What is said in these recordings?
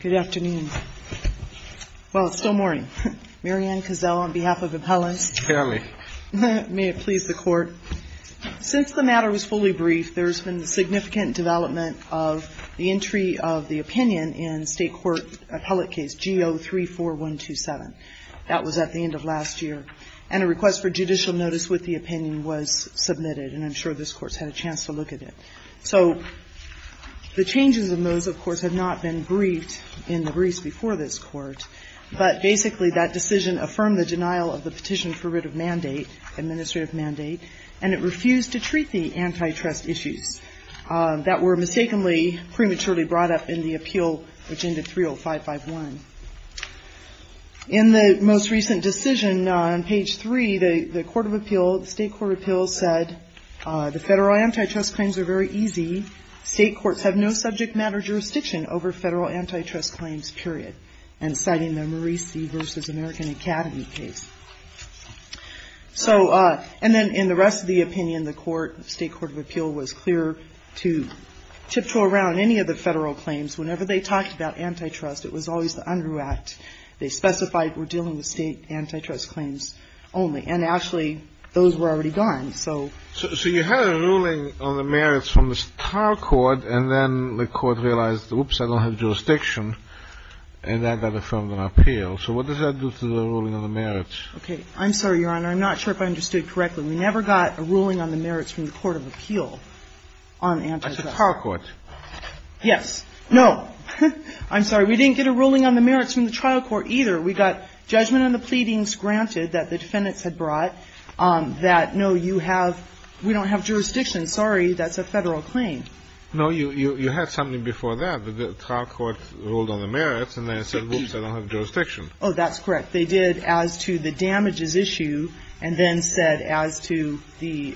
Good afternoon. Well, it's still morning. Mary Ann Cazell on behalf of appellants. Hear me. May it please the Court. Since the matter was fully briefed, there's been significant development of the entry of the opinion in State Court appellate case G034127. That was at the end of last year. And a request for judicial notice with the opinion was submitted, and I'm sure this Court's had a chance to look at it. So the changes in those, of course, have not been briefed in the briefs before this Court, but basically that decision affirmed the denial of the petition for writ of mandate, administrative mandate, and it refused to treat the antitrust issues that were mistakenly prematurely brought up in the appeal, Agenda 30551. In the most recent decision on page 3, the Court of Appeal, the State Court of Appeal said, the Federal antitrust claims are very easy. State courts have no subject matter jurisdiction over Federal antitrust claims, period. And citing the Marie C. v. American Academy case. So, and then in the rest of the opinion, the Court, State Court of Appeal was clear to tiptoe around any of the Federal claims. Whenever they talked about antitrust, it was always the UNDREW Act. They specified we're dealing with State antitrust claims only. And actually, those were already gone, so. So you had a ruling on the merits from the Tar Court, and then the Court realized, oops, I don't have jurisdiction, and that got affirmed on appeal. So what does that do to the ruling on the merits? Okay. I'm sorry, Your Honor. I'm not sure if I understood correctly. We never got a ruling on the merits from the Court of Appeal on antitrust. I said Tar Court. Yes. No. I'm sorry. We didn't get a ruling on the merits from the trial court either. We got judgment on the pleadings granted that the defendants had brought that, no, you have – we don't have jurisdiction. Sorry, that's a Federal claim. No, you had something before that. The trial court ruled on the merits, and then said, oops, I don't have jurisdiction. Oh, that's correct. They did as to the damages issue and then said as to the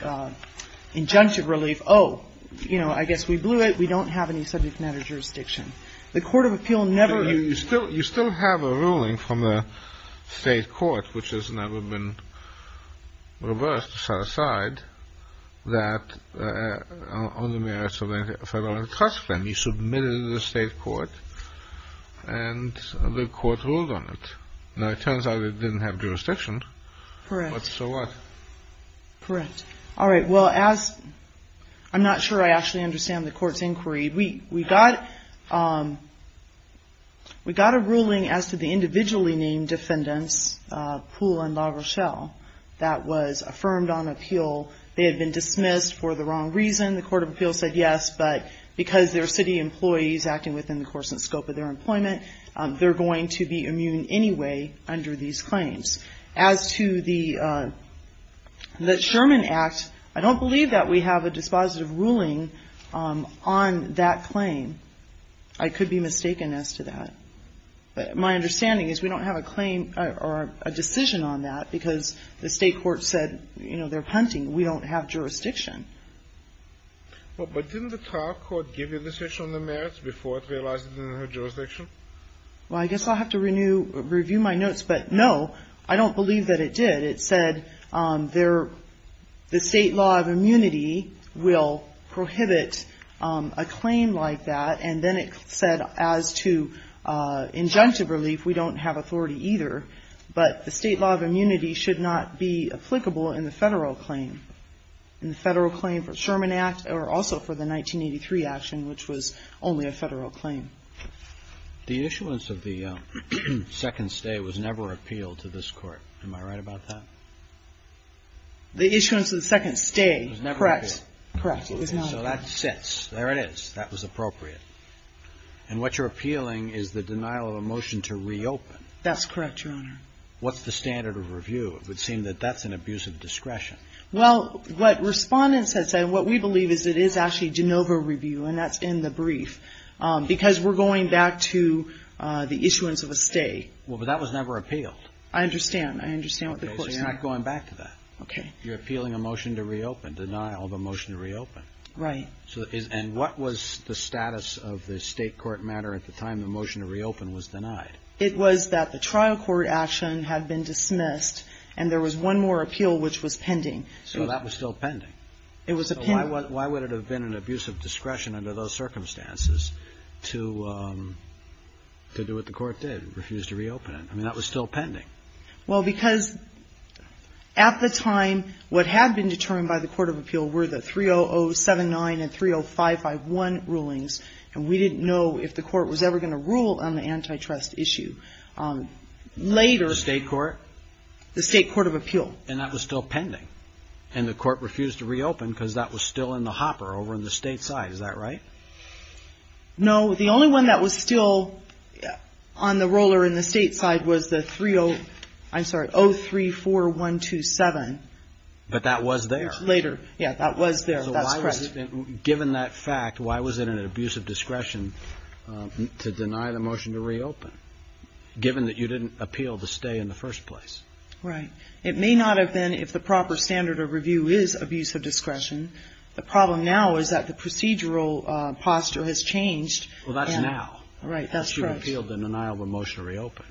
injunctive relief, oh, you know, I guess we blew it. We don't have any subject matter jurisdiction. The Court of Appeal never – You still have a ruling from the State court, which has never been reversed, set aside, that on the merits of a Federal antitrust claim, you submitted it to the State court, and the court ruled on it. Now, it turns out it didn't have jurisdiction. Correct. But so what? Correct. All right. Well, as – I'm not sure I actually understand the Court's inquiry. We got a ruling as to the individually named defendants, Poole and LaRochelle, that was affirmed on appeal. They had been dismissed for the wrong reason. The Court of Appeal said yes, but because they're city employees acting within the course and scope of their employment, they're going to be immune anyway under these claims. As to the Sherman Act, I don't believe that we have a dispositive ruling on that claim. I could be mistaken as to that. But my understanding is we don't have a claim or a decision on that because the State court said, you know, they're hunting. We don't have jurisdiction. Well, but didn't the trial court give the decision on the merits before it realized it didn't have jurisdiction? Well, I guess I'll have to review my notes. But, no, I don't believe that it did. It said the State law of immunity will prohibit a claim like that. And then it said as to injunctive relief, we don't have authority either. But the State law of immunity should not be applicable in the Federal claim. In the Federal claim for Sherman Act or also for the 1983 action, which was only a Federal claim. The issuance of the second stay was never appealed to this Court. Am I right about that? The issuance of the second stay, correct. Correct. So that sits. There it is. That was appropriate. And what you're appealing is the denial of a motion to reopen. That's correct, Your Honor. What's the standard of review? It would seem that that's an abuse of discretion. Well, what respondents have said, what we believe is it is actually de novo review, and that's in the brief. Because we're going back to the issuance of a stay. Well, but that was never appealed. I understand. I understand what the Court. It's not going back to that. Okay. You're appealing a motion to reopen, denial of a motion to reopen. Right. And what was the status of the State court matter at the time the motion to reopen was denied? It was that the trial court action had been dismissed, and there was one more appeal which was pending. So that was still pending. It was a pending. So why would it have been an abuse of discretion under those circumstances to do what the Court did, refuse to reopen it? I mean, that was still pending. Well, because at the time, what had been determined by the Court of Appeal were the 30079 and 30551 rulings. And we didn't know if the Court was ever going to rule on the antitrust issue. Later. The State court? The State Court of Appeal. And that was still pending. And the Court refused to reopen because that was still in the hopper over on the State side. Is that right? No. The only one that was still on the roller in the State side was the 30, I'm sorry, 034127. But that was there. Later. Yeah, that was there. That's correct. Given that fact, why was it an abuse of discretion to deny the motion to reopen, given that you didn't appeal to stay in the first place? Right. It may not have been if the proper standard of review is abuse of discretion. The problem now is that the procedural posture has changed. Well, that's now. Right. That's correct. Once you've appealed the denial of a motion to reopen.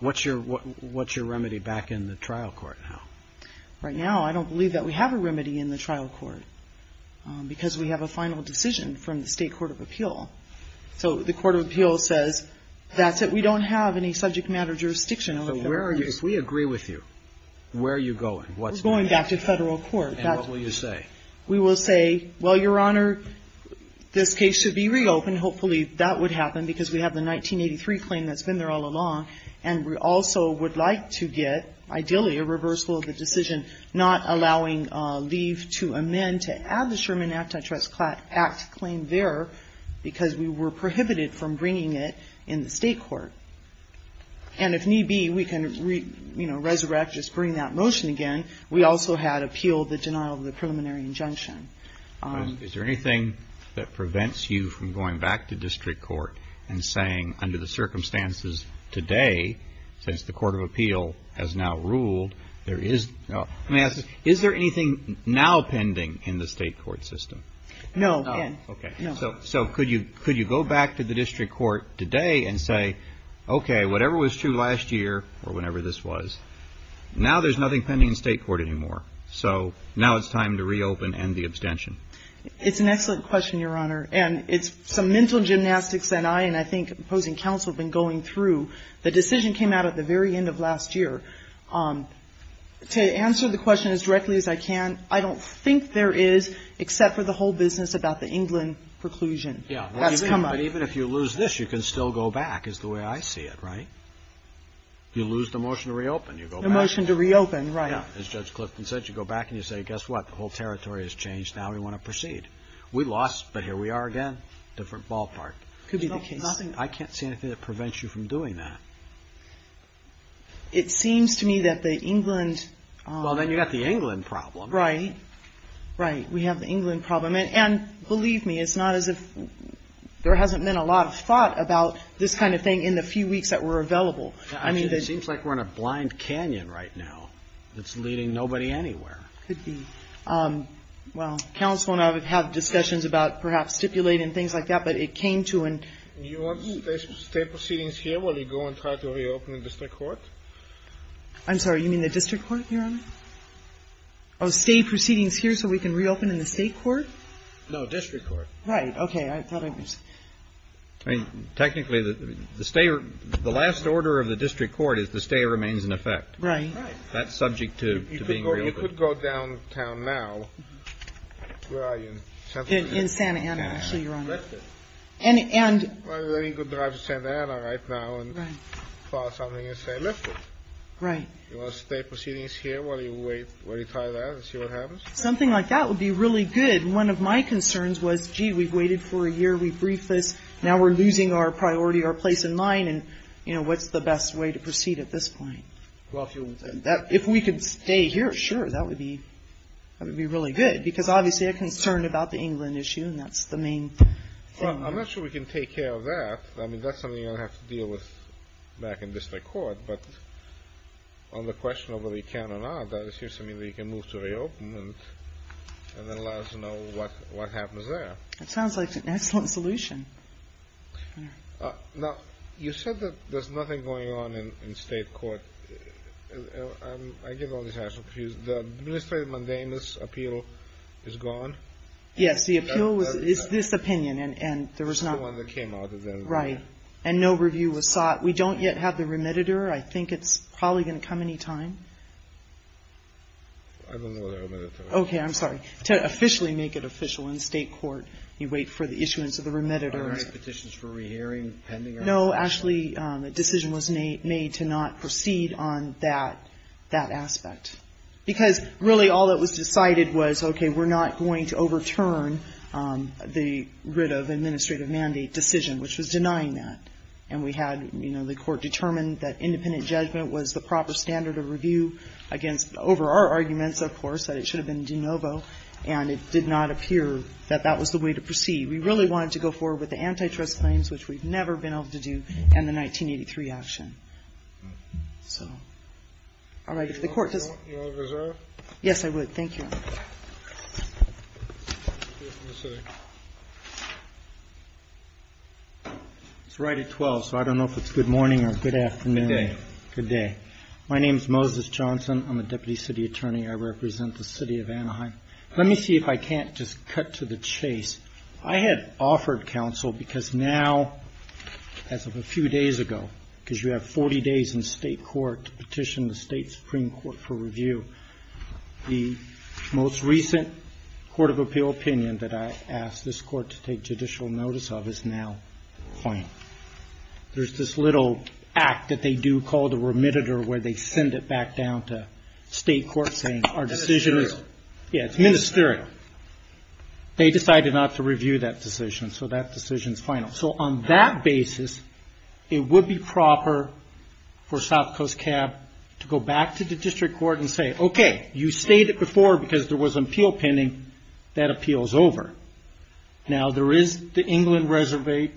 What's your remedy back in the trial court now? Right now, I don't believe that we have a remedy in the trial court, because we have a final decision from the State Court of Appeal. So the Court of Appeal says that's it. We don't have any subject matter jurisdiction over federal case. But where are you? If we agree with you, where are you going? We're going back to federal court. And what will you say? We will say, well, Your Honor, this case should be reopened. Hopefully that would happen, because we have the 1983 claim that's been there all along. And we also would like to get, ideally, a reversal of the decision, not allowing leave to amend to add the Sherman Anti-Trust Act claim there, because we were prohibited from bringing it in the State Court. And if need be, we can, you know, resurrect, just bring that motion again. We also had appealed the denial of the preliminary injunction. Is there anything that prevents you from going back to district court and saying, under the circumstances today, since the Court of Appeal has now ruled, there is no ‑‑ let me ask this. Is there anything now pending in the State Court system? No. No. Okay. So could you go back to the district court today and say, okay, whatever was true last year or whenever this was, now there's nothing pending in State Court anymore. So now it's time to reopen and end the abstention. It's an excellent question, Your Honor. And it's some mental gymnastics that I and I think opposing counsel have been going through. The decision came out at the very end of last year. To answer the question as directly as I can, I don't think there is, except for the whole business about the England preclusion. Yeah. That's come up. But even if you lose this, you can still go back, is the way I see it, right? You lose the motion to reopen, you go back. The motion to reopen, right. Yeah. As Judge Clifton said, you go back and you say, guess what, the whole territory has changed, now we want to proceed. We lost, but here we are again, different ballpark. Could be the case. I can't see anything that prevents you from doing that. It seems to me that the England ‑‑ Well, then you've got the England problem. Right. Right. We have the England problem. And believe me, it's not as if there hasn't been a lot of thought about this kind of thing in the few weeks that were available. It seems like we're in a blind canyon right now that's leading nobody anywhere. Could be. Well, counsel and I would have discussions about perhaps stipulating things like that, but it came to an ‑‑ You want state proceedings here while you go and try to reopen in district court? I'm sorry. You mean the district court, Your Honor? Oh, state proceedings here so we can reopen in the state court? No, district court. Right. Okay. I mean, technically, the last order of the district court is the stay remains in effect. Right. That's subject to being reopened. You could go downtown now. Where are you? In Santa Ana, actually, Your Honor. And then you could drive to Santa Ana right now and file something and say lift it. Right. You want state proceedings here while you wait, while you try that and see what happens? Something like that would be really good. And one of my concerns was, gee, we've waited for a year, we've briefed this, now we're losing our priority, our place in mind, and, you know, what's the best way to proceed at this point? Well, if you want to stay. If we could stay here, sure, that would be really good because obviously a concern about the England issue and that's the main thing. Well, I'm not sure we can take care of that. I mean, that's something you're going to have to deal with back in district court. But on the question of whether you can or not, that is something that you can move to reopen and then allow us to know what happens there. That sounds like an excellent solution. Now, you said that there's nothing going on in state court. I get all these rational confusions. The administrative mundane appeal is gone? Yes, the appeal is this opinion and there was not one that came out of there. Right. And no review was sought. We don't yet have the remediator. I think it's probably going to come any time. I don't know the remediator. Okay. I'm sorry. To officially make it official in state court, you wait for the issuance of the remediator. Are there any petitions for rehearing pending? No. Actually, a decision was made to not proceed on that aspect because really all that was decided was, okay, we're not going to overturn the writ of administrative mandate decision, which was denying that. And we had, you know, the Court determined that independent judgment was the proper standard of review against over our arguments, of course, that it should have been de novo, and it did not appear that that was the way to proceed. We really wanted to go forward with the antitrust claims, which we've never been able to do, and the 1983 action. So, all right. If the Court does not. Do you want to reserve? Thank you. It's right at 12, so I don't know if it's good morning or good afternoon. Good day. Good day. My name is Moses Johnson. I'm a deputy city attorney. I represent the city of Anaheim. Let me see if I can't just cut to the chase. I had offered counsel because now, as of a few days ago, because you have 40 days in state court to petition the state supreme court for review, the most recent court of appeal opinion that I asked this court to take judicial notice of is now final. There's this little act that they do called a remitter where they send it back down to state court saying our decision is. Ministerial. Yeah, it's ministerial. They decided not to review that decision, so that decision's final. On that basis, it would be proper for South Coast Cab to go back to the district court and say, okay, you stayed it before because there was an appeal pending. That appeal's over. Now, there is the England reservation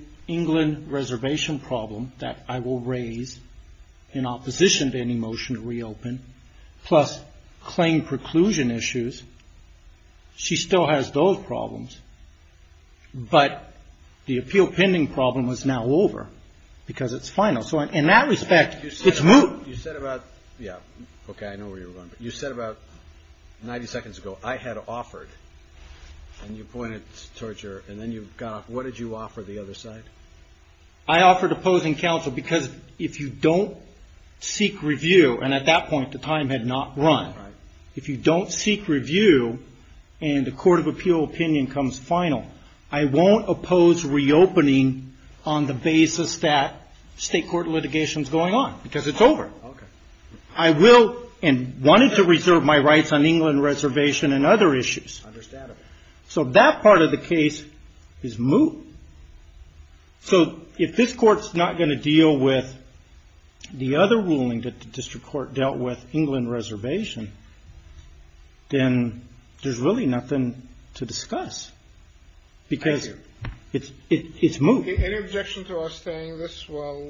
problem that I will raise in opposition to any motion to reopen, plus claim preclusion issues. She still has those problems, but the appeal pending problem is now over because it's final. In that respect, it's moot. You said about, yeah, okay, I know where you're going, but you said about 90 seconds ago, I had offered, and you pointed towards your, and then you got off. What did you offer the other side? I offered opposing counsel because if you don't seek review, and at that point, the time had not run. Right. If you don't seek review, and the court of appeal opinion comes final, I won't oppose reopening on the basis that state court litigation's going on because it's over. Okay. I will, and wanted to reserve my rights on England reservation and other issues. Understandable. So that part of the case is moot. So if this court's not going to deal with the other ruling that the district court dealt with, England reservation, then there's really nothing to discuss because it's moot. Any objection to us saying this while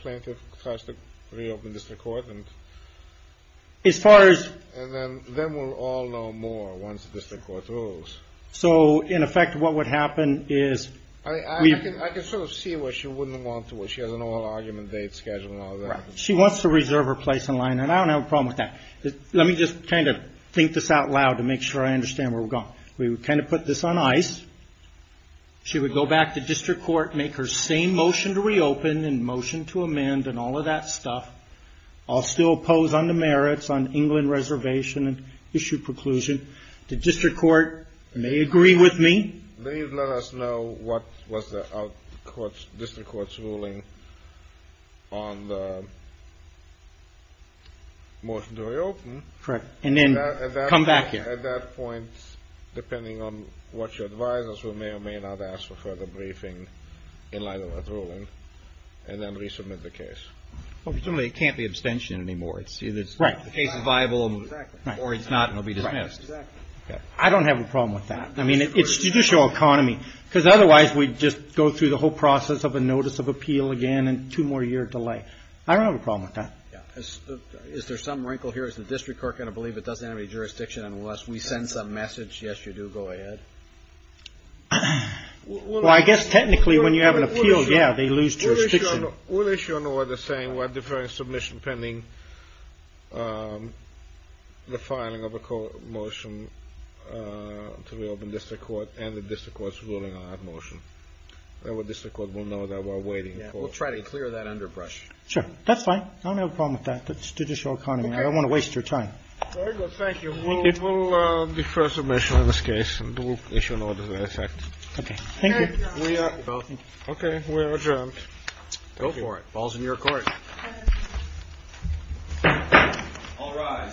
plaintiff tries to reopen district court? As far as? And then we'll all know more once the district court rules. So, in effect, what would happen is we. I can sort of see where she wouldn't want to, where she has an all argument date scheduled and all that. Right. She wants to reserve her place in line, and I don't have a problem with that. Let me just kind of think this out loud to make sure I understand where we're going. We would kind of put this on ice. She would go back to district court, make her same motion to reopen and motion to amend and all of that stuff. I'll still pose on the merits on England reservation and issue preclusion. The district court may agree with me. Please let us know what was the district court's ruling on the motion to reopen. Correct. And then come back here. At that point, depending on what you advise us, we may or may not ask for further briefing in light of that ruling and then resubmit the case. Well, presumably it can't be abstention anymore. It's either the case is viable or it's not and will be dismissed. I don't have a problem with that. I mean, it's judicial economy, because otherwise we'd just go through the whole process of a notice of appeal again and two more years delay. I don't have a problem with that. Is there some wrinkle here? Is the district court going to believe it doesn't have any jurisdiction unless we send some message? Yes, you do. Go ahead. Well, I guess technically when you have an appeal, yeah, they lose jurisdiction. We'll issue an order saying we're deferring submission pending the filing of a motion to reopen district court and the district court's ruling on that motion. And the district court will know that we're waiting. We'll try to clear that underbrush. Sure. That's fine. I don't have a problem with that. That's judicial economy. I don't want to waste your time. Very good. Thank you. We'll defer submission on this case and issue an order to that effect. Okay. Thank you. Okay. We are adjourned. Thank you. Go for it. Ball's in your court. All rise. Thank you.